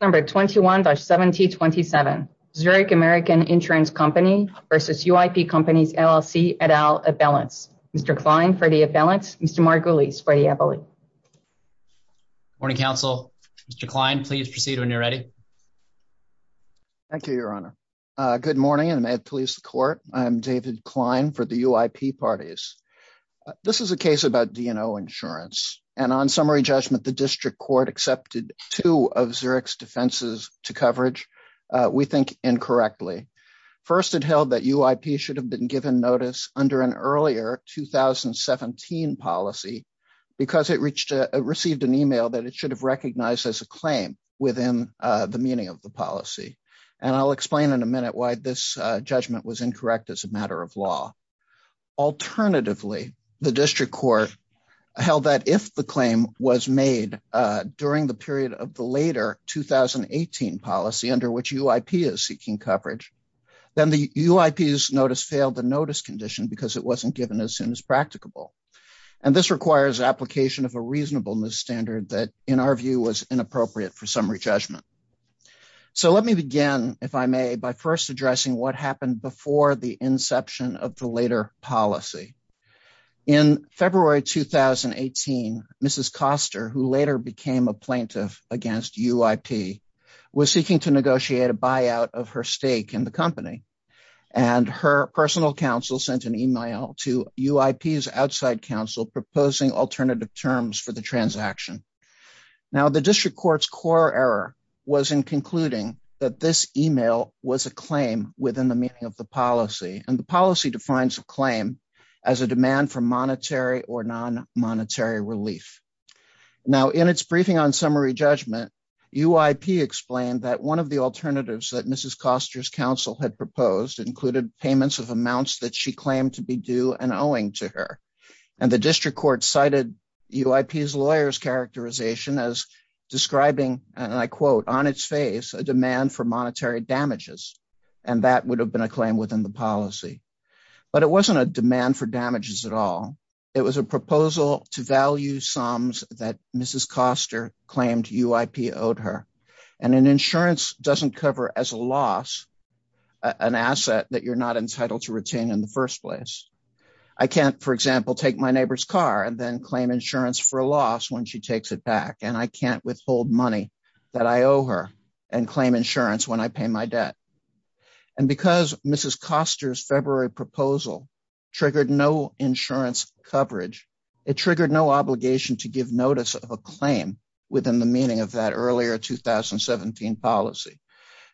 Number 21-1727, Zurich American Insurance Company versus UIP Companies LLC et al, a balance. Mr. Klein for the a balance. Mr. Margulies for the appellate. Morning, counsel. Mr. Klein, please proceed when you're ready. Thank you, your honor. Good morning, and may it please the court. I'm David Klein for the UIP Parties. This is a case about DNO Insurance. And on summary judgment, the district court accepted two of Zurich's defenses to coverage, we think incorrectly. First, it held that UIP should have been given notice under an earlier 2017 policy, because it received an email that it should have recognized as a claim within the meaning of the policy. And I'll explain in a minute why this judgment was incorrect as a matter of law. Alternatively, the district court held that if the claim was made during the period of the later 2018 policy under which UIP is seeking coverage, then the UIP's notice failed the notice condition because it wasn't given as soon as practicable. And this requires application of a reasonableness standard that in our view was inappropriate for summary judgment. So let me begin, if I may, by first addressing what happened before the inception of the later policy. In February, 2018, Mrs. Koster, who later became a plaintiff against UIP, was seeking to negotiate a buyout of her stake in the company. And her personal counsel sent an email to UIP's outside counsel, proposing alternative terms for the transaction. Now the district court's core error was in concluding that this email was a claim within the meaning of the policy and the policy defines a claim as a demand for monetary or non-monetary relief. Now in its briefing on summary judgment, UIP explained that one of the alternatives that Mrs. Koster's counsel had proposed included payments of amounts that she claimed to be due and owing to her. And the district court cited UIP's lawyer's characterization as describing, and I quote, on its face, a demand for monetary damages. And that would have been a claim within the policy. But it wasn't a demand for damages at all. It was a proposal to value sums that Mrs. Koster claimed UIP owed her. And an insurance doesn't cover as a loss, an asset that you're not entitled to retain in the first place. I can't, for example, take my neighbor's car and then claim insurance for a loss when she takes it back. And I can't withhold money that I owe her and claim insurance when I pay my debt. And because Mrs. Koster's February proposal triggered no insurance coverage, it triggered no obligation to give notice of a claim within the meaning of that earlier 2017 policy.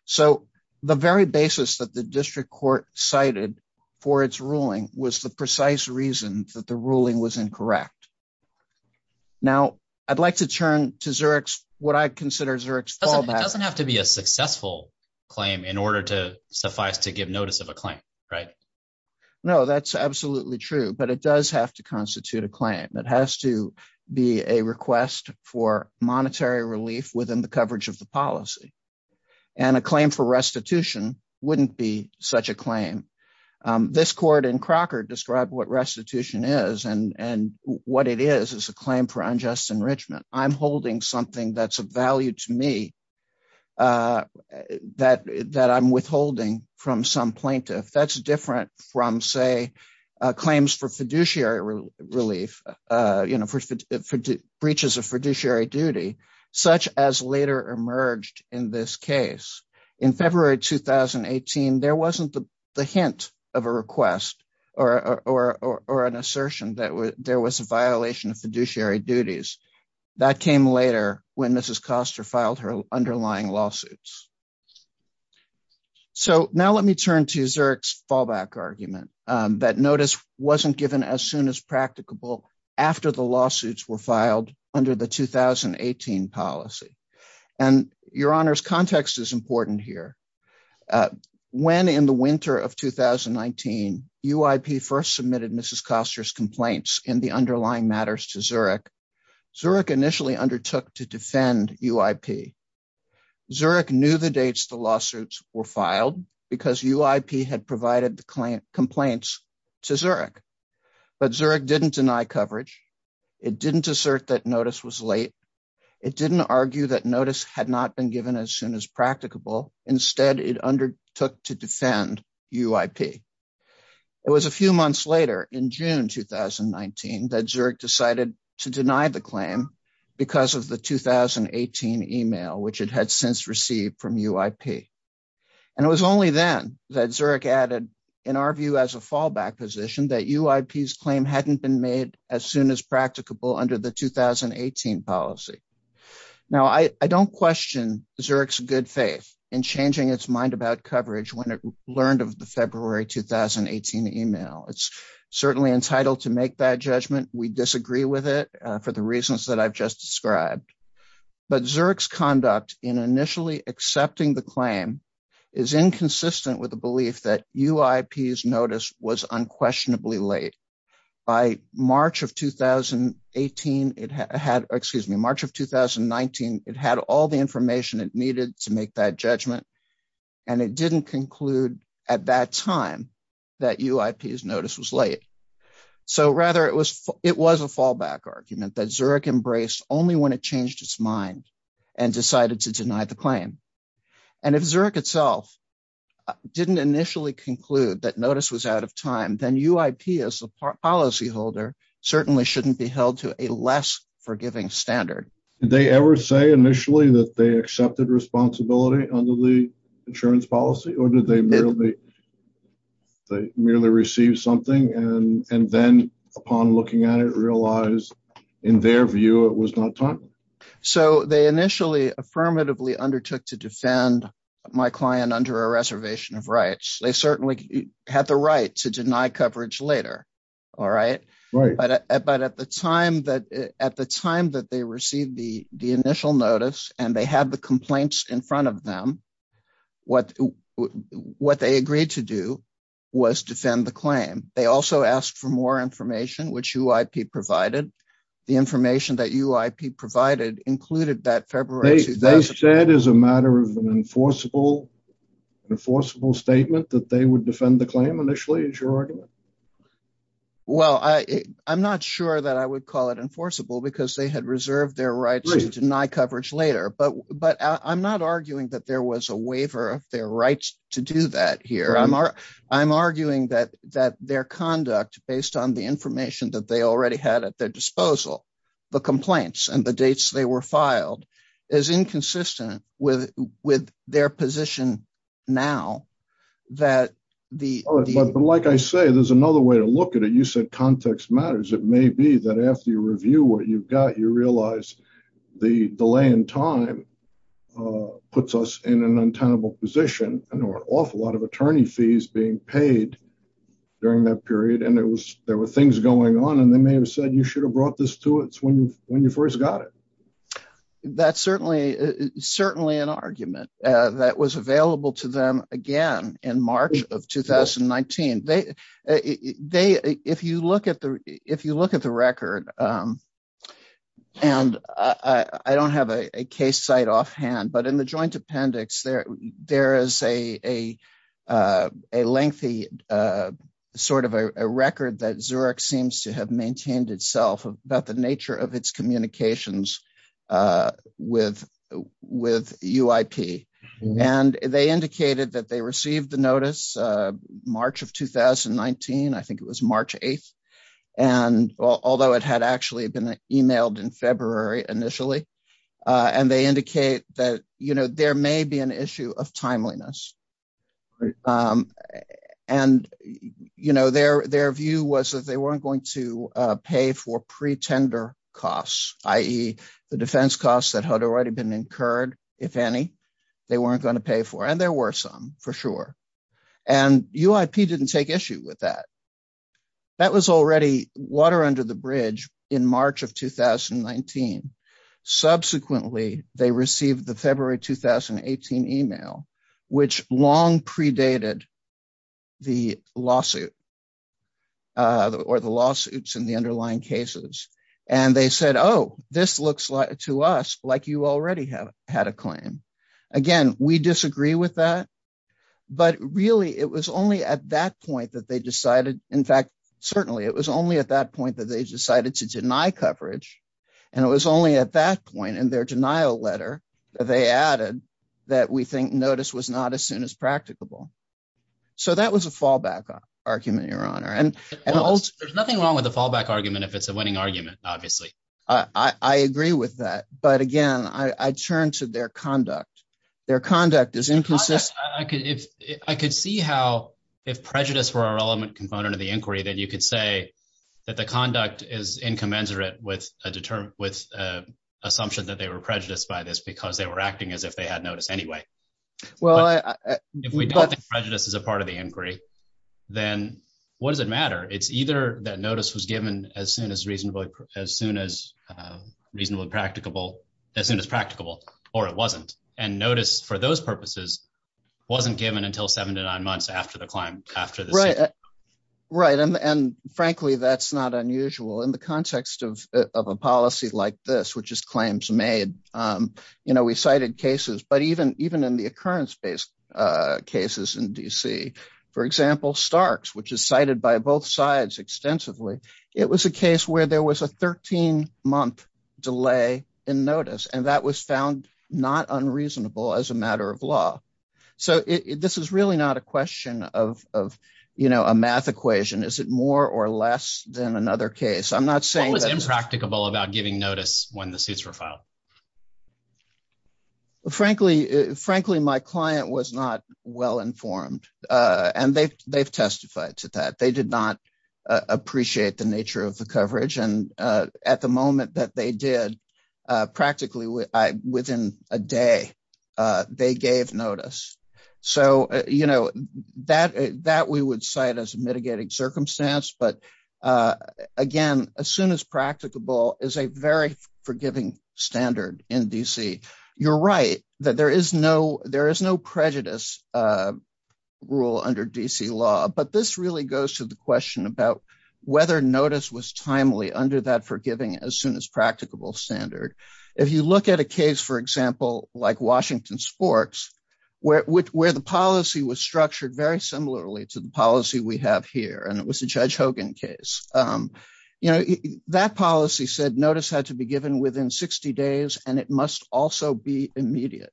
So the very basis that the district court cited for its ruling was the precise reason that the ruling was incorrect. Now, I'd like to turn to Zurich's, what I consider Zurich's fallback. It doesn't have to be a successful claim in order to suffice to give notice of a claim, right? No, that's absolutely true, but it does have to constitute a claim. It has to be a request for monetary relief within the coverage of the policy. And a claim for restitution wouldn't be such a claim. This court in Crocker described what restitution is and what it is, is a claim for unjust enrichment. I'm holding something that's of value to me that I'm withholding from some plaintiff. That's different from say, claims for fiduciary relief, breaches of fiduciary duty, such as later emerged in this case. In February, 2018, there wasn't the hint of a request or an assertion that there was a violation of fiduciary duties. That came later when Mrs. Koster filed her underlying lawsuits. So now let me turn to Zurich's fallback argument that notice wasn't given as soon as practicable after the lawsuits were filed under the 2018 policy. And your honor's context is important here. When in the winter of 2019, UIP first submitted Mrs. Koster's complaints in the underlying matters to Zurich, Zurich initially undertook to defend UIP. Zurich knew the dates the lawsuits were filed because UIP had provided the complaints to Zurich, but Zurich didn't deny coverage. It didn't assert that notice was late. It didn't argue that notice had not been given as soon as practicable. Instead, it undertook to defend UIP. It was a few months later in June, 2019 that Zurich decided to deny the claim because of the 2018 email, which it had since received from UIP. And it was only then that Zurich added, in our view as a fallback position, that UIP's claim hadn't been made as soon as practicable under the 2018 policy. Now, I don't question Zurich's good faith in changing its mind about coverage when it learned of the February, 2018 email. It's certainly entitled to make that judgment. We disagree with it for the reasons that I've just described but Zurich's conduct in initially accepting the claim is inconsistent with the belief that UIP's notice was unquestionably late. By March of 2018, it had, excuse me, March of 2019, it had all the information it needed to make that judgment. And it didn't conclude at that time that UIP's notice was late. So rather, it was a fallback argument that Zurich embraced only when it changed its mind and decided to deny the claim. And if Zurich itself didn't initially conclude that notice was out of time, then UIP as a policy holder certainly shouldn't be held to a less forgiving standard. Did they ever say initially that they accepted responsibility under the insurance policy or did they merely receive something? And then upon looking at it realized in their view, it was not time. So they initially affirmatively undertook to defend my client under a reservation of rights. They certainly had the right to deny coverage later. All right. Right. But at the time that they received the initial notice and they had the complaints in front of them, what they agreed to do was defend the claim. They also asked for more information, which UIP provided. The information that UIP provided included that February 2000- They said as a matter of an enforceable statement that they would defend the claim initially is your argument? Well, I'm not sure that I would call it enforceable because they had reserved their rights to deny coverage later. But I'm not arguing that there was a waiver of their rights to do that here. I'm arguing that their conduct based on the information that they already had at their disposal, the complaints and the dates they were filed is inconsistent with their position now that the- But like I say, there's another way to look at it. You said context matters. It may be that after you review what you've got, you realize the delay in time puts us in an untenable position and there were an awful lot of attorney fees being paid during that period. And there were things going on and they may have said, you should have brought this to us when you first got it. That's certainly an argument that was available to them again in March of 2019. They, if you look at the record and I don't have a case site off hand, but in the joint appendix, there is a lengthy sort of a record that Zurich seems to have maintained itself about the nature of its communications with UIP. And they indicated that they received the notice March of 2019, I think it was March 8th. And although it had actually been emailed in February initially, and they indicate that there may be an issue of timeliness. And their view was that they weren't going to pay for pretender costs, i.e. the defense costs that had already been incurred, if any, they weren't gonna pay for. And there were some for sure. And UIP didn't take issue with that. That was already water under the bridge in March of 2019. Subsequently, they received the February 2018 email, which long predated the lawsuit or the lawsuits and the underlying cases. And they said, oh, this looks like to us like you already have had a claim. Again, we disagree with that, but really it was only at that point that they decided, in fact, certainly it was only at that point that they decided to deny coverage. And it was only at that point in their denial letter that they added that we think notice was not as soon as practicable. So that was a fallback argument, Your Honor. And- There's nothing wrong with a fallback argument if it's a winning argument, obviously. I agree with that. But again, I turn to their conduct. Their conduct is inconsistent. I could see how if prejudice were a relevant component of the inquiry, then you could say that the conduct is incommensurate with assumption that they were prejudiced by this because they were acting as if they had notice anyway. Well, I- If we don't think prejudice is a part of the inquiry, then what does it matter? It's either that notice was given as soon as reasonable, as soon as reasonably practicable, as soon as practicable, or it wasn't. And notice for those purposes wasn't given until seven to nine months after the claim, after the- Right. Right, and frankly, that's not unusual in the context of a policy like this, which is claims made. You know, we cited cases, but even in the occurrence-based cases in D.C., for example, Starks, which is cited by both sides extensively, it was a case where there was a 13-month delay in notice. And that was found not unreasonable as a matter of law. So this is really not a question of, you know, a math equation. Is it more or less than another case? I'm not saying that- What was impracticable about giving notice when the suits were filed? Frankly, my client was not well-informed, and they've testified to that. They did not appreciate the nature of the coverage. And at the moment that they did, practically within a day, they gave notice. So, you know, that we would cite as a mitigating circumstance. But again, as soon as practicable is a very forgiving standard in D.C. You're right that there is no prejudice rule under D.C. law, but this really goes to the question about whether notice was timely under that forgiving as soon as practicable standard. If you look at a case, for example, like Washington Sports, where the policy was structured very similarly to the policy we have here, and it was a Judge Hogan case, you know, that policy said notice had to be given within 60 days, and it must also be immediate.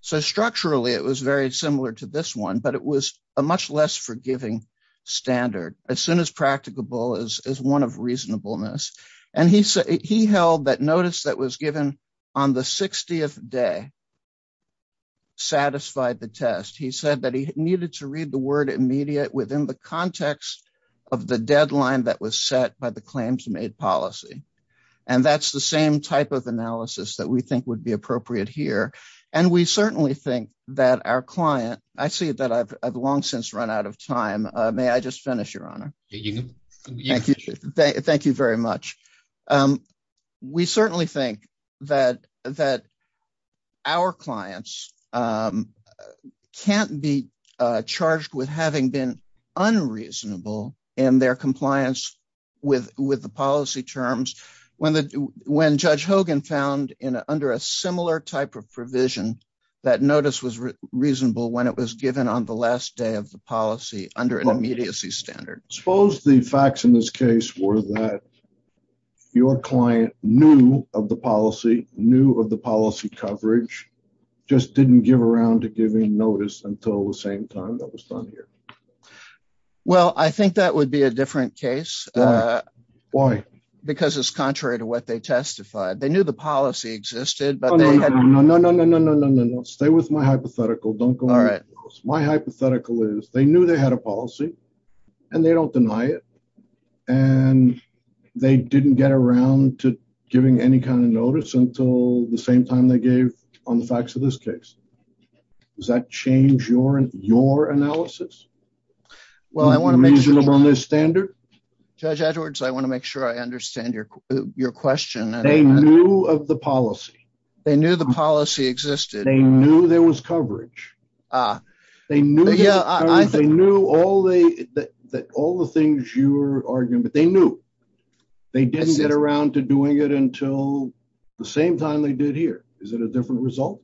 So structurally, it was very similar to this one, but it was a much less forgiving standard. As soon as practicable is one of reasonableness. And he held that notice that was given on the 60th day satisfied the test. He said that he needed to read the word immediate within the context of the deadline that was set by the claims made policy. And that's the same type of analysis that we think would be appropriate here. And we certainly think that our client, I see that I've long since run out of time. May I just finish, Your Honor? Thank you. Thank you very much. We certainly think that our clients can't be charged with having been unreasonable in their compliance with the policy terms. When Judge Hogan found under a similar type of provision that notice was reasonable when it was given on the last day of the policy under an immediacy standard. Suppose the facts in this case were that your client knew of the policy, knew of the policy coverage, just didn't give around to giving notice until the same time that was done here. Well, I think that would be a different case. Why? Because it's contrary to what they testified. They knew the policy existed, but they had- No, no, no, no, no, no, no, no, no. Stay with my hypothetical. Don't go any further. My hypothetical is they knew they had a policy and they don't deny it, and they didn't get around to giving any kind of notice until the same time they gave on the facts of this case. Does that change your analysis? Well, I want to make sure- Unreasonable on this standard? Judge Edwards, I want to make sure I understand your question. They knew of the policy. They knew the policy existed. They knew there was coverage. They knew there was coverage. They knew all the things you were arguing, but they knew. They didn't get around to doing it until the same time they did here. Is it a different result?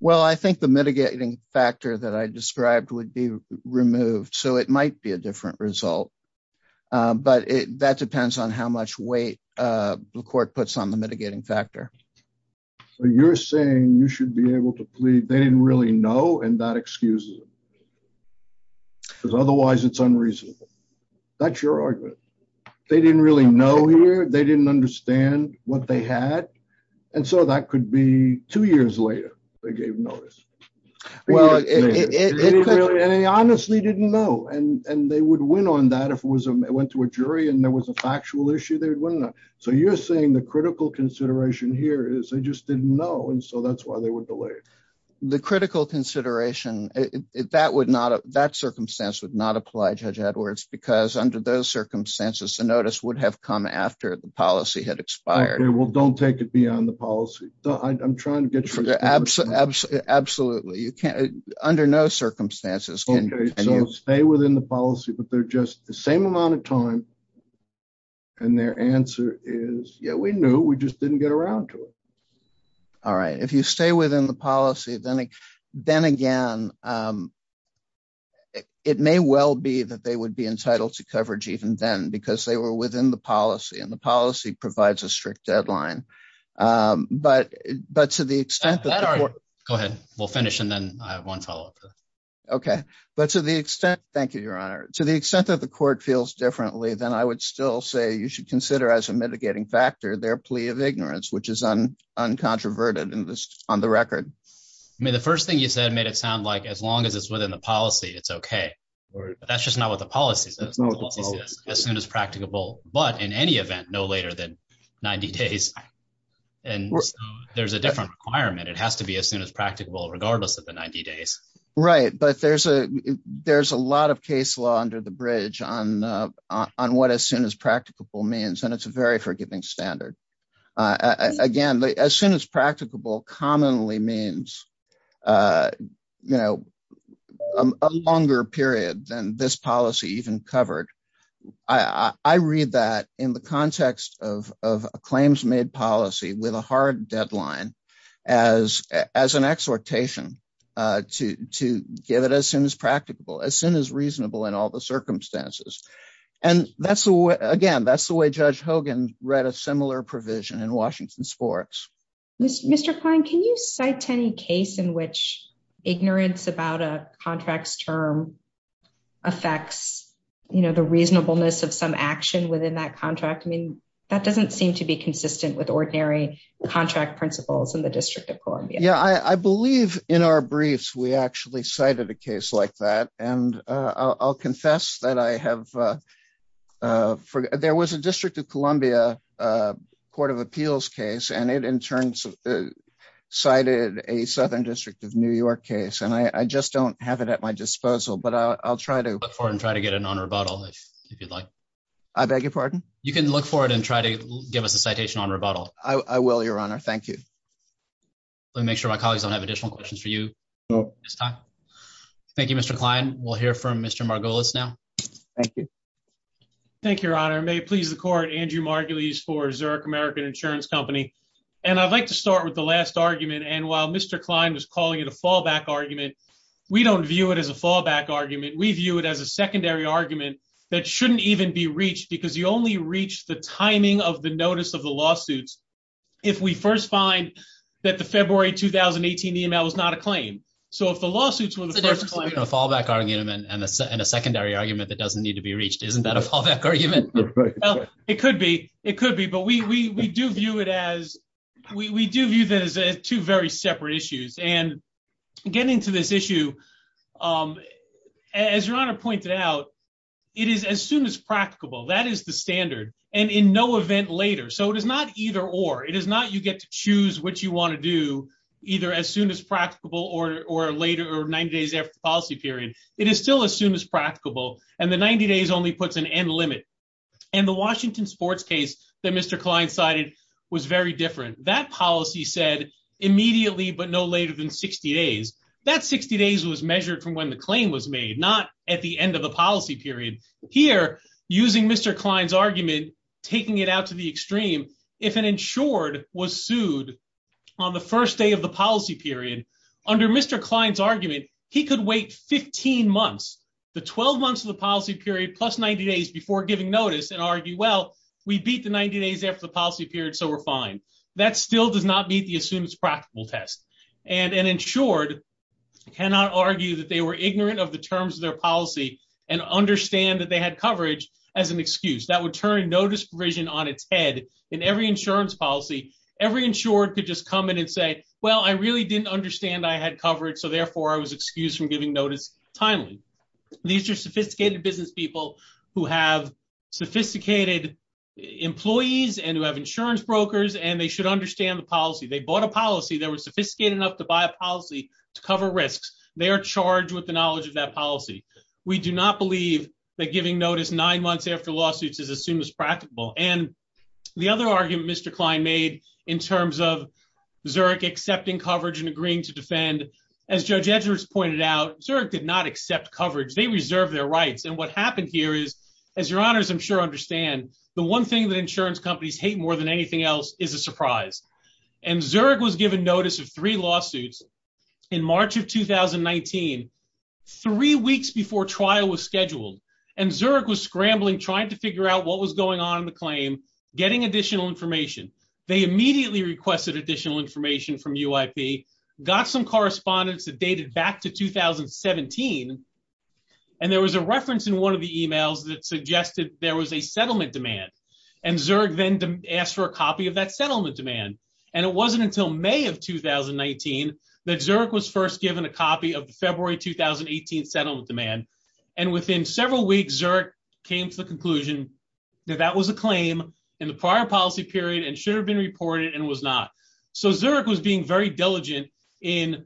Well, I think the mitigating factor that I described would be removed, so it might be a different result, but that depends on how much weight the court puts on the mitigating factor. You're saying you should be able to plead. They didn't really know, and that excuses them, because otherwise it's unreasonable. That's your argument. They didn't really know here. They didn't understand what they had, and so that could be two years later they gave notice. Well, and they honestly didn't know, and they would win on that if it went to a jury and there was a factual issue, they would win on that. So you're saying the critical consideration here is they just didn't know, and so that's why they were delayed. The critical consideration, that circumstance would not apply, Judge Edwards, because under those circumstances, the notice would have come after the policy had expired. Okay, well, don't take it beyond the policy. I'm trying to get you... Absolutely. Under no circumstances can you... Okay, so stay within the policy, but they're just the same amount of time, and their answer is, yeah, we knew, we just didn't get around to it. All right, if you stay within the policy, then again, it may well be that they would be entitled to coverage even then, because they were within the policy, and the policy provides a strict deadline, but to the extent that the court... Go ahead, we'll finish, and then I have one follow-up. Okay, but to the extent... Thank you, Your Honor. To the extent that the court feels differently than I would still say, you should consider as a mitigating factor their plea of ignorance, which is uncontroverted on the record. I mean, the first thing you said made it sound like as long as it's within the policy, it's okay, but that's just not what the policy says. The policy says as soon as practicable, but in any event, no later than 90 days, and there's a different requirement. It has to be as soon as practicable, regardless of the 90 days. Right, but there's a lot of case law under the bridge on what as soon as practicable means, and it's a very forgiving standard. Again, as soon as practicable commonly means, a longer period than this policy even covered. I read that in the context of a claims-made policy with a hard deadline as an exhortation to give it as soon as practicable, as soon as reasonable in all the circumstances. And again, that's the way Judge Hogan read a similar provision in Washington Sports. Mr. Klein, can you cite any case in which ignorance about a contract's term affects the reasonableness of some action within that contract? I mean, that doesn't seem to be consistent with ordinary contract principles in the District of Columbia. Yeah, I believe in our briefs, we actually cited a case like that, and I'll confess that I have, there was a District of Columbia Court of Appeals case, and it in turn cited a Southern District of New York case, and I just don't have it at my disposal, but I'll try to- Look for it and try to get it on rebuttal if you'd like. I beg your pardon? You can look for it and try to give us a citation on rebuttal. I will, Your Honor, thank you. Let me make sure my colleagues don't have additional questions for you this time. Thank you, Mr. Klein. We'll hear from Mr. Margolis now. Thank you. Thank you, Your Honor. May it please the court, Andrew Margolis for Zurich American Insurance Company. And I'd like to start with the last argument, and while Mr. Klein was calling it a fallback argument, we don't view it as a fallback argument. We view it as a secondary argument that shouldn't even be reached because you only reach the timing of the notice of the lawsuits if we first find that the February 2018 email was not a claim. So if the lawsuits were the first claim, a fallback argument and a secondary argument that doesn't need to be reached, isn't that a fallback argument? It could be, it could be, but we do view it as, we do view that as two very separate issues. And getting to this issue, as Your Honor pointed out, it is as soon as practicable, that is the standard, and in no event later. So it is not either or, it is not you get to choose what you wanna do either as soon as practicable or later or 90 days after the policy period. It is still as soon as practicable, and the 90 days only puts an end limit. And the Washington sports case that Mr. Klein cited was very different. That policy said immediately, but no later than 60 days. That 60 days was measured from when the claim was made, not at the end of the policy period. Here, using Mr. Klein's argument, taking it out to the extreme, if an insured was sued on the first day of the policy period, under Mr. Klein's argument, he could wait 15 months, the 12 months of the policy period, plus 90 days before giving notice and argue, well, we beat the 90 days after the policy period, so we're fine. That still does not meet the as soon as practicable test. And an insured cannot argue that they were ignorant of the terms of their policy and understand that they had coverage as an excuse. That would turn notice provision on its head in every insurance policy, every insured could just come in and say, well, I really didn't understand I had coverage, so therefore I was excused from giving notice timely. These are sophisticated business people who have sophisticated employees and who have insurance brokers, and they should understand the policy. They bought a policy, they were sophisticated enough to buy a policy to cover risks. They are charged with the knowledge of that policy. We do not believe that giving notice nine months after lawsuits is as soon as practicable. And the other argument Mr. Klein made in terms of Zurich accepting coverage and agreeing to defend, as Judge Edgars pointed out, Zurich did not accept coverage. They reserved their rights. And what happened here is, as your honors I'm sure understand, the one thing that insurance companies hate more than anything else is a surprise. And Zurich was given notice of three lawsuits in March of 2019, three weeks before trial was scheduled. And Zurich was scrambling, trying to figure out what was going on in the claim, getting additional information. They immediately requested additional information from UIP, got some correspondence that dated back to 2017. And there was a reference in one of the emails that suggested there was a settlement demand. And Zurich then asked for a copy of that settlement demand. And it wasn't until May of 2019 that Zurich was first given a copy of the February 2018 settlement demand. And within several weeks, Zurich came to the conclusion that that was a claim in the prior policy period and should have been reported and was not. So Zurich was being very diligent in,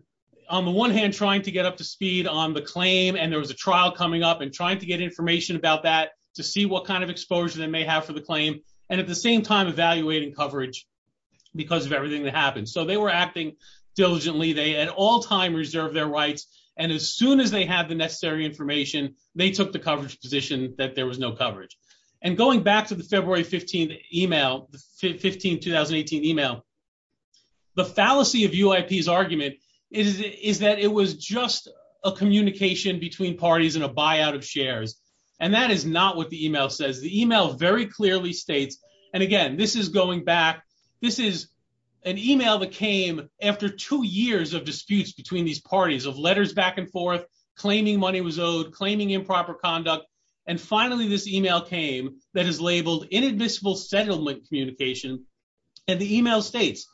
on the one hand, trying to get up to speed on the claim and there was a trial coming up and trying to get information about that to see what kind of exposure they may have for the claim. And at the same time, evaluating coverage because of everything that happened. So they were acting diligently. They at all time reserved their rights. And as soon as they had the necessary information, they took the coverage position that there was no coverage. And going back to the February 15th email, the 15th, 2018 email, the fallacy of UIP's argument is that it was just a communication between parties and a buyout of shares. And that is not what the email says. The email very clearly states, and again, this is going back. This is an email that came after two years of disputes between these parties of letters back and forth, claiming money was owed, claiming improper conduct. And finally, this email came that is labeled inadmissible settlement communication. And the email states,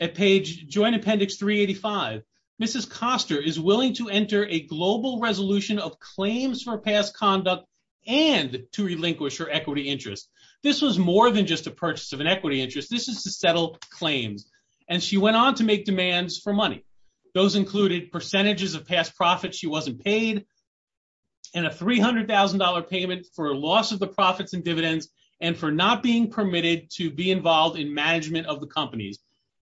at page joint appendix 385, Mrs. Koster is willing to enter a global resolution of claims for past conduct and to relinquish her equity interest. This was more than just a purchase of an equity interest. This is to settle claims. And she went on to make demands for money. Those included percentages of past profits she wasn't paid and a $300,000 payment for loss of the profits and dividends and for not being permitted to be involved in management of the companies.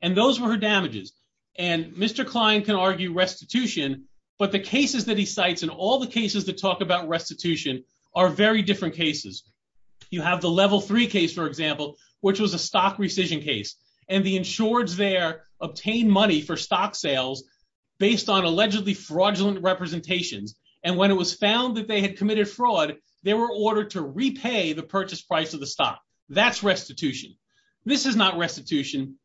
And those were her damages. And Mr. Klein can argue restitution, but the cases that he cites and all the cases that talk about restitution are very different cases. You have the level three case, for example, which was a stock rescission case. And the insureds there obtained money for stock sales based on allegedly fraudulent representations. And when it was found that they had committed fraud, they were ordered to repay the purchase price of the stock. That's restitution. This is not restitution.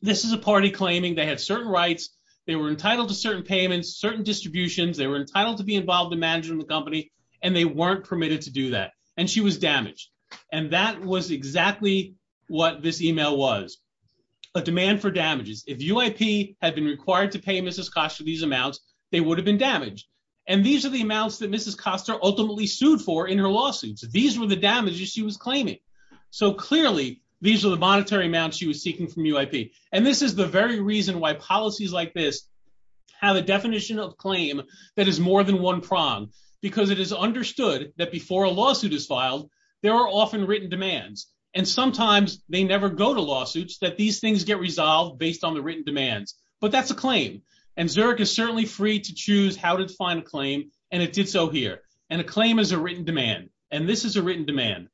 This is a party claiming they had certain rights. They were entitled to certain payments, certain distributions. They were entitled to be involved in managing the company and they weren't permitted to do that. And she was damaged. And that was exactly what this email was. A demand for damages. If UIP had been required to pay Mrs. Costa these amounts, they would have been damaged. And these are the amounts that Mrs. Costa ultimately sued for in her lawsuits. These were the damages she was claiming. So clearly these are the monetary amounts she was seeking from UIP. And this is the very reason why policies like this have a definition of claim that is more than one prong because it is understood that before a lawsuit is filed, there are often written demands. And sometimes they never go to lawsuits that these things get resolved based on the written demands. But that's a claim. And Zurich is certainly free to choose how to define a claim. And it did so here. And a claim is a written demand. And this is a written demand.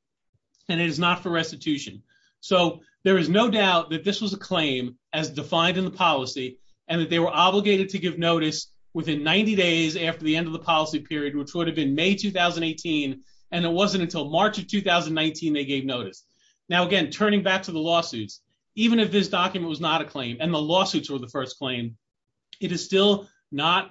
And it is not for restitution. So there is no doubt that this was a claim as defined in the policy and that they were obligated to give notice within 90 days after the end of the policy period, which would have been May, 2018. And it wasn't until March of 2019, they gave notice. Now, again, turning back to the lawsuits, even if this document was not a claim and the lawsuits were the first claim, it is still not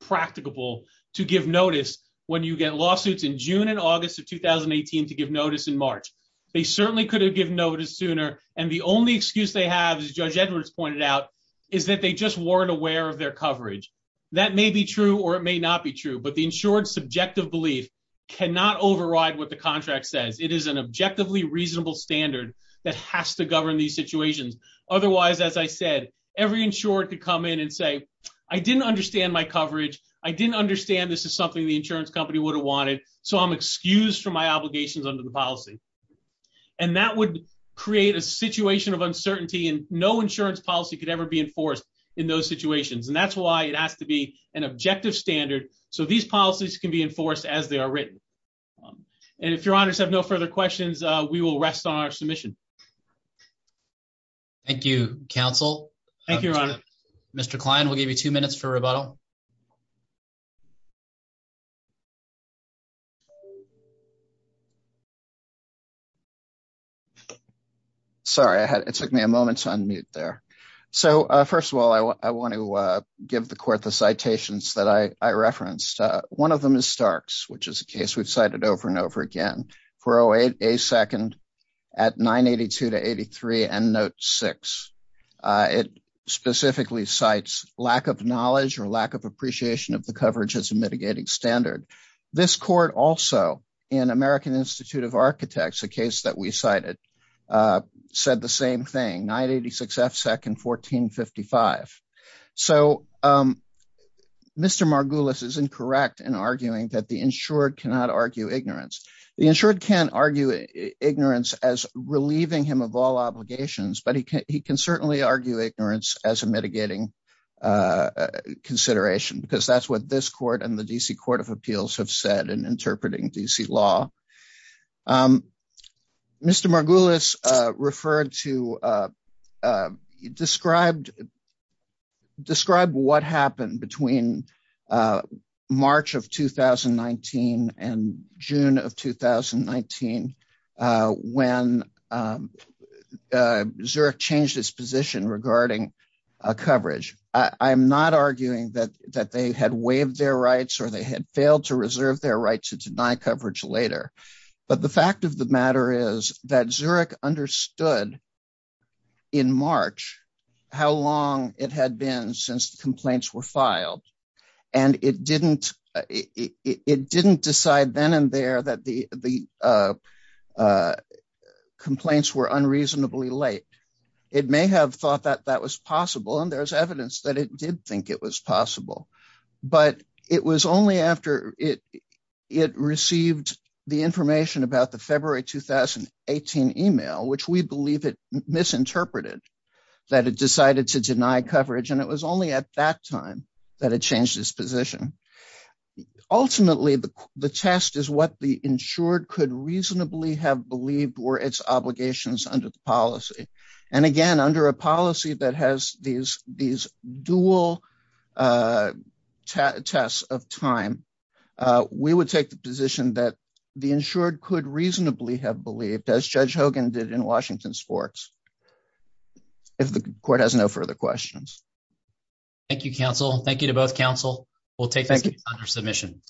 practicable to give notice when you get lawsuits in June and August of 2018 to give notice in March. They certainly could have given notice sooner. And the only excuse they have, as Judge Edwards pointed out, is that they just weren't aware of their coverage. That may be true or it may not be true, but the insured subjective belief cannot override what the contract says. It is an objectively reasonable standard that has to govern these situations. Otherwise, as I said, every insured could come in and say, I didn't understand my coverage. I didn't understand this is something the insurance company would have wanted. So I'm excused from my obligations under the policy. And that would create a situation of uncertainty and no insurance policy could ever be enforced in those situations. And that's why it has to be an objective standard. So these policies can be enforced as they are written. And if your honors have no further questions, we will rest on our submission. Thank you, counsel. Thank you, your honor. Mr. Klein, we'll give you two minutes for rebuttal. Sorry, it took me a moment to unmute there. So first of all, I want to give the court the citations that I referenced. One of them is Starks, which is a case we've cited over and over again. 408A second at 982 to 83 and note six. It specifically cites lack of knowledge or lack of appreciation of the coverage as a mitigating standard. This court also in American Institute of Architects, a case that we cited said the same thing, 986F second 1455. So Mr. Margulis is incorrect in arguing that the insured cannot argue ignorance. The insured can argue ignorance as relieving him of all obligations, but he can certainly argue ignorance as a mitigating consideration because that's what this court and the DC Court of Appeals have said in interpreting DC law. Mr. Margulis referred to, described, described what happened between March of 2019 and June of 2019 when Zurich changed its position regarding coverage. I'm not arguing that they had waived their rights or they had failed to reserve their rights to deny coverage later. But the fact of the matter is that Zurich understood in March how long it had been since the complaints were filed. And it didn't decide then and there that the complaints were unreasonably late. It may have thought that that was possible and there's evidence that it did think it was possible, but it was only after it received the information about the February, 2018 email, which we believe it misinterpreted that it decided to deny coverage. And it was only at that time that it changed its position. Ultimately, the test is what the insured could reasonably have believed were its obligations under the policy. And again, under a policy that has these dual tests of time, we would take the position that the insured could reasonably have believed as Judge Hogan did in Washington sports, if the court has no further questions. Thank you, counsel. Thank you to both counsel. We'll take it under submission.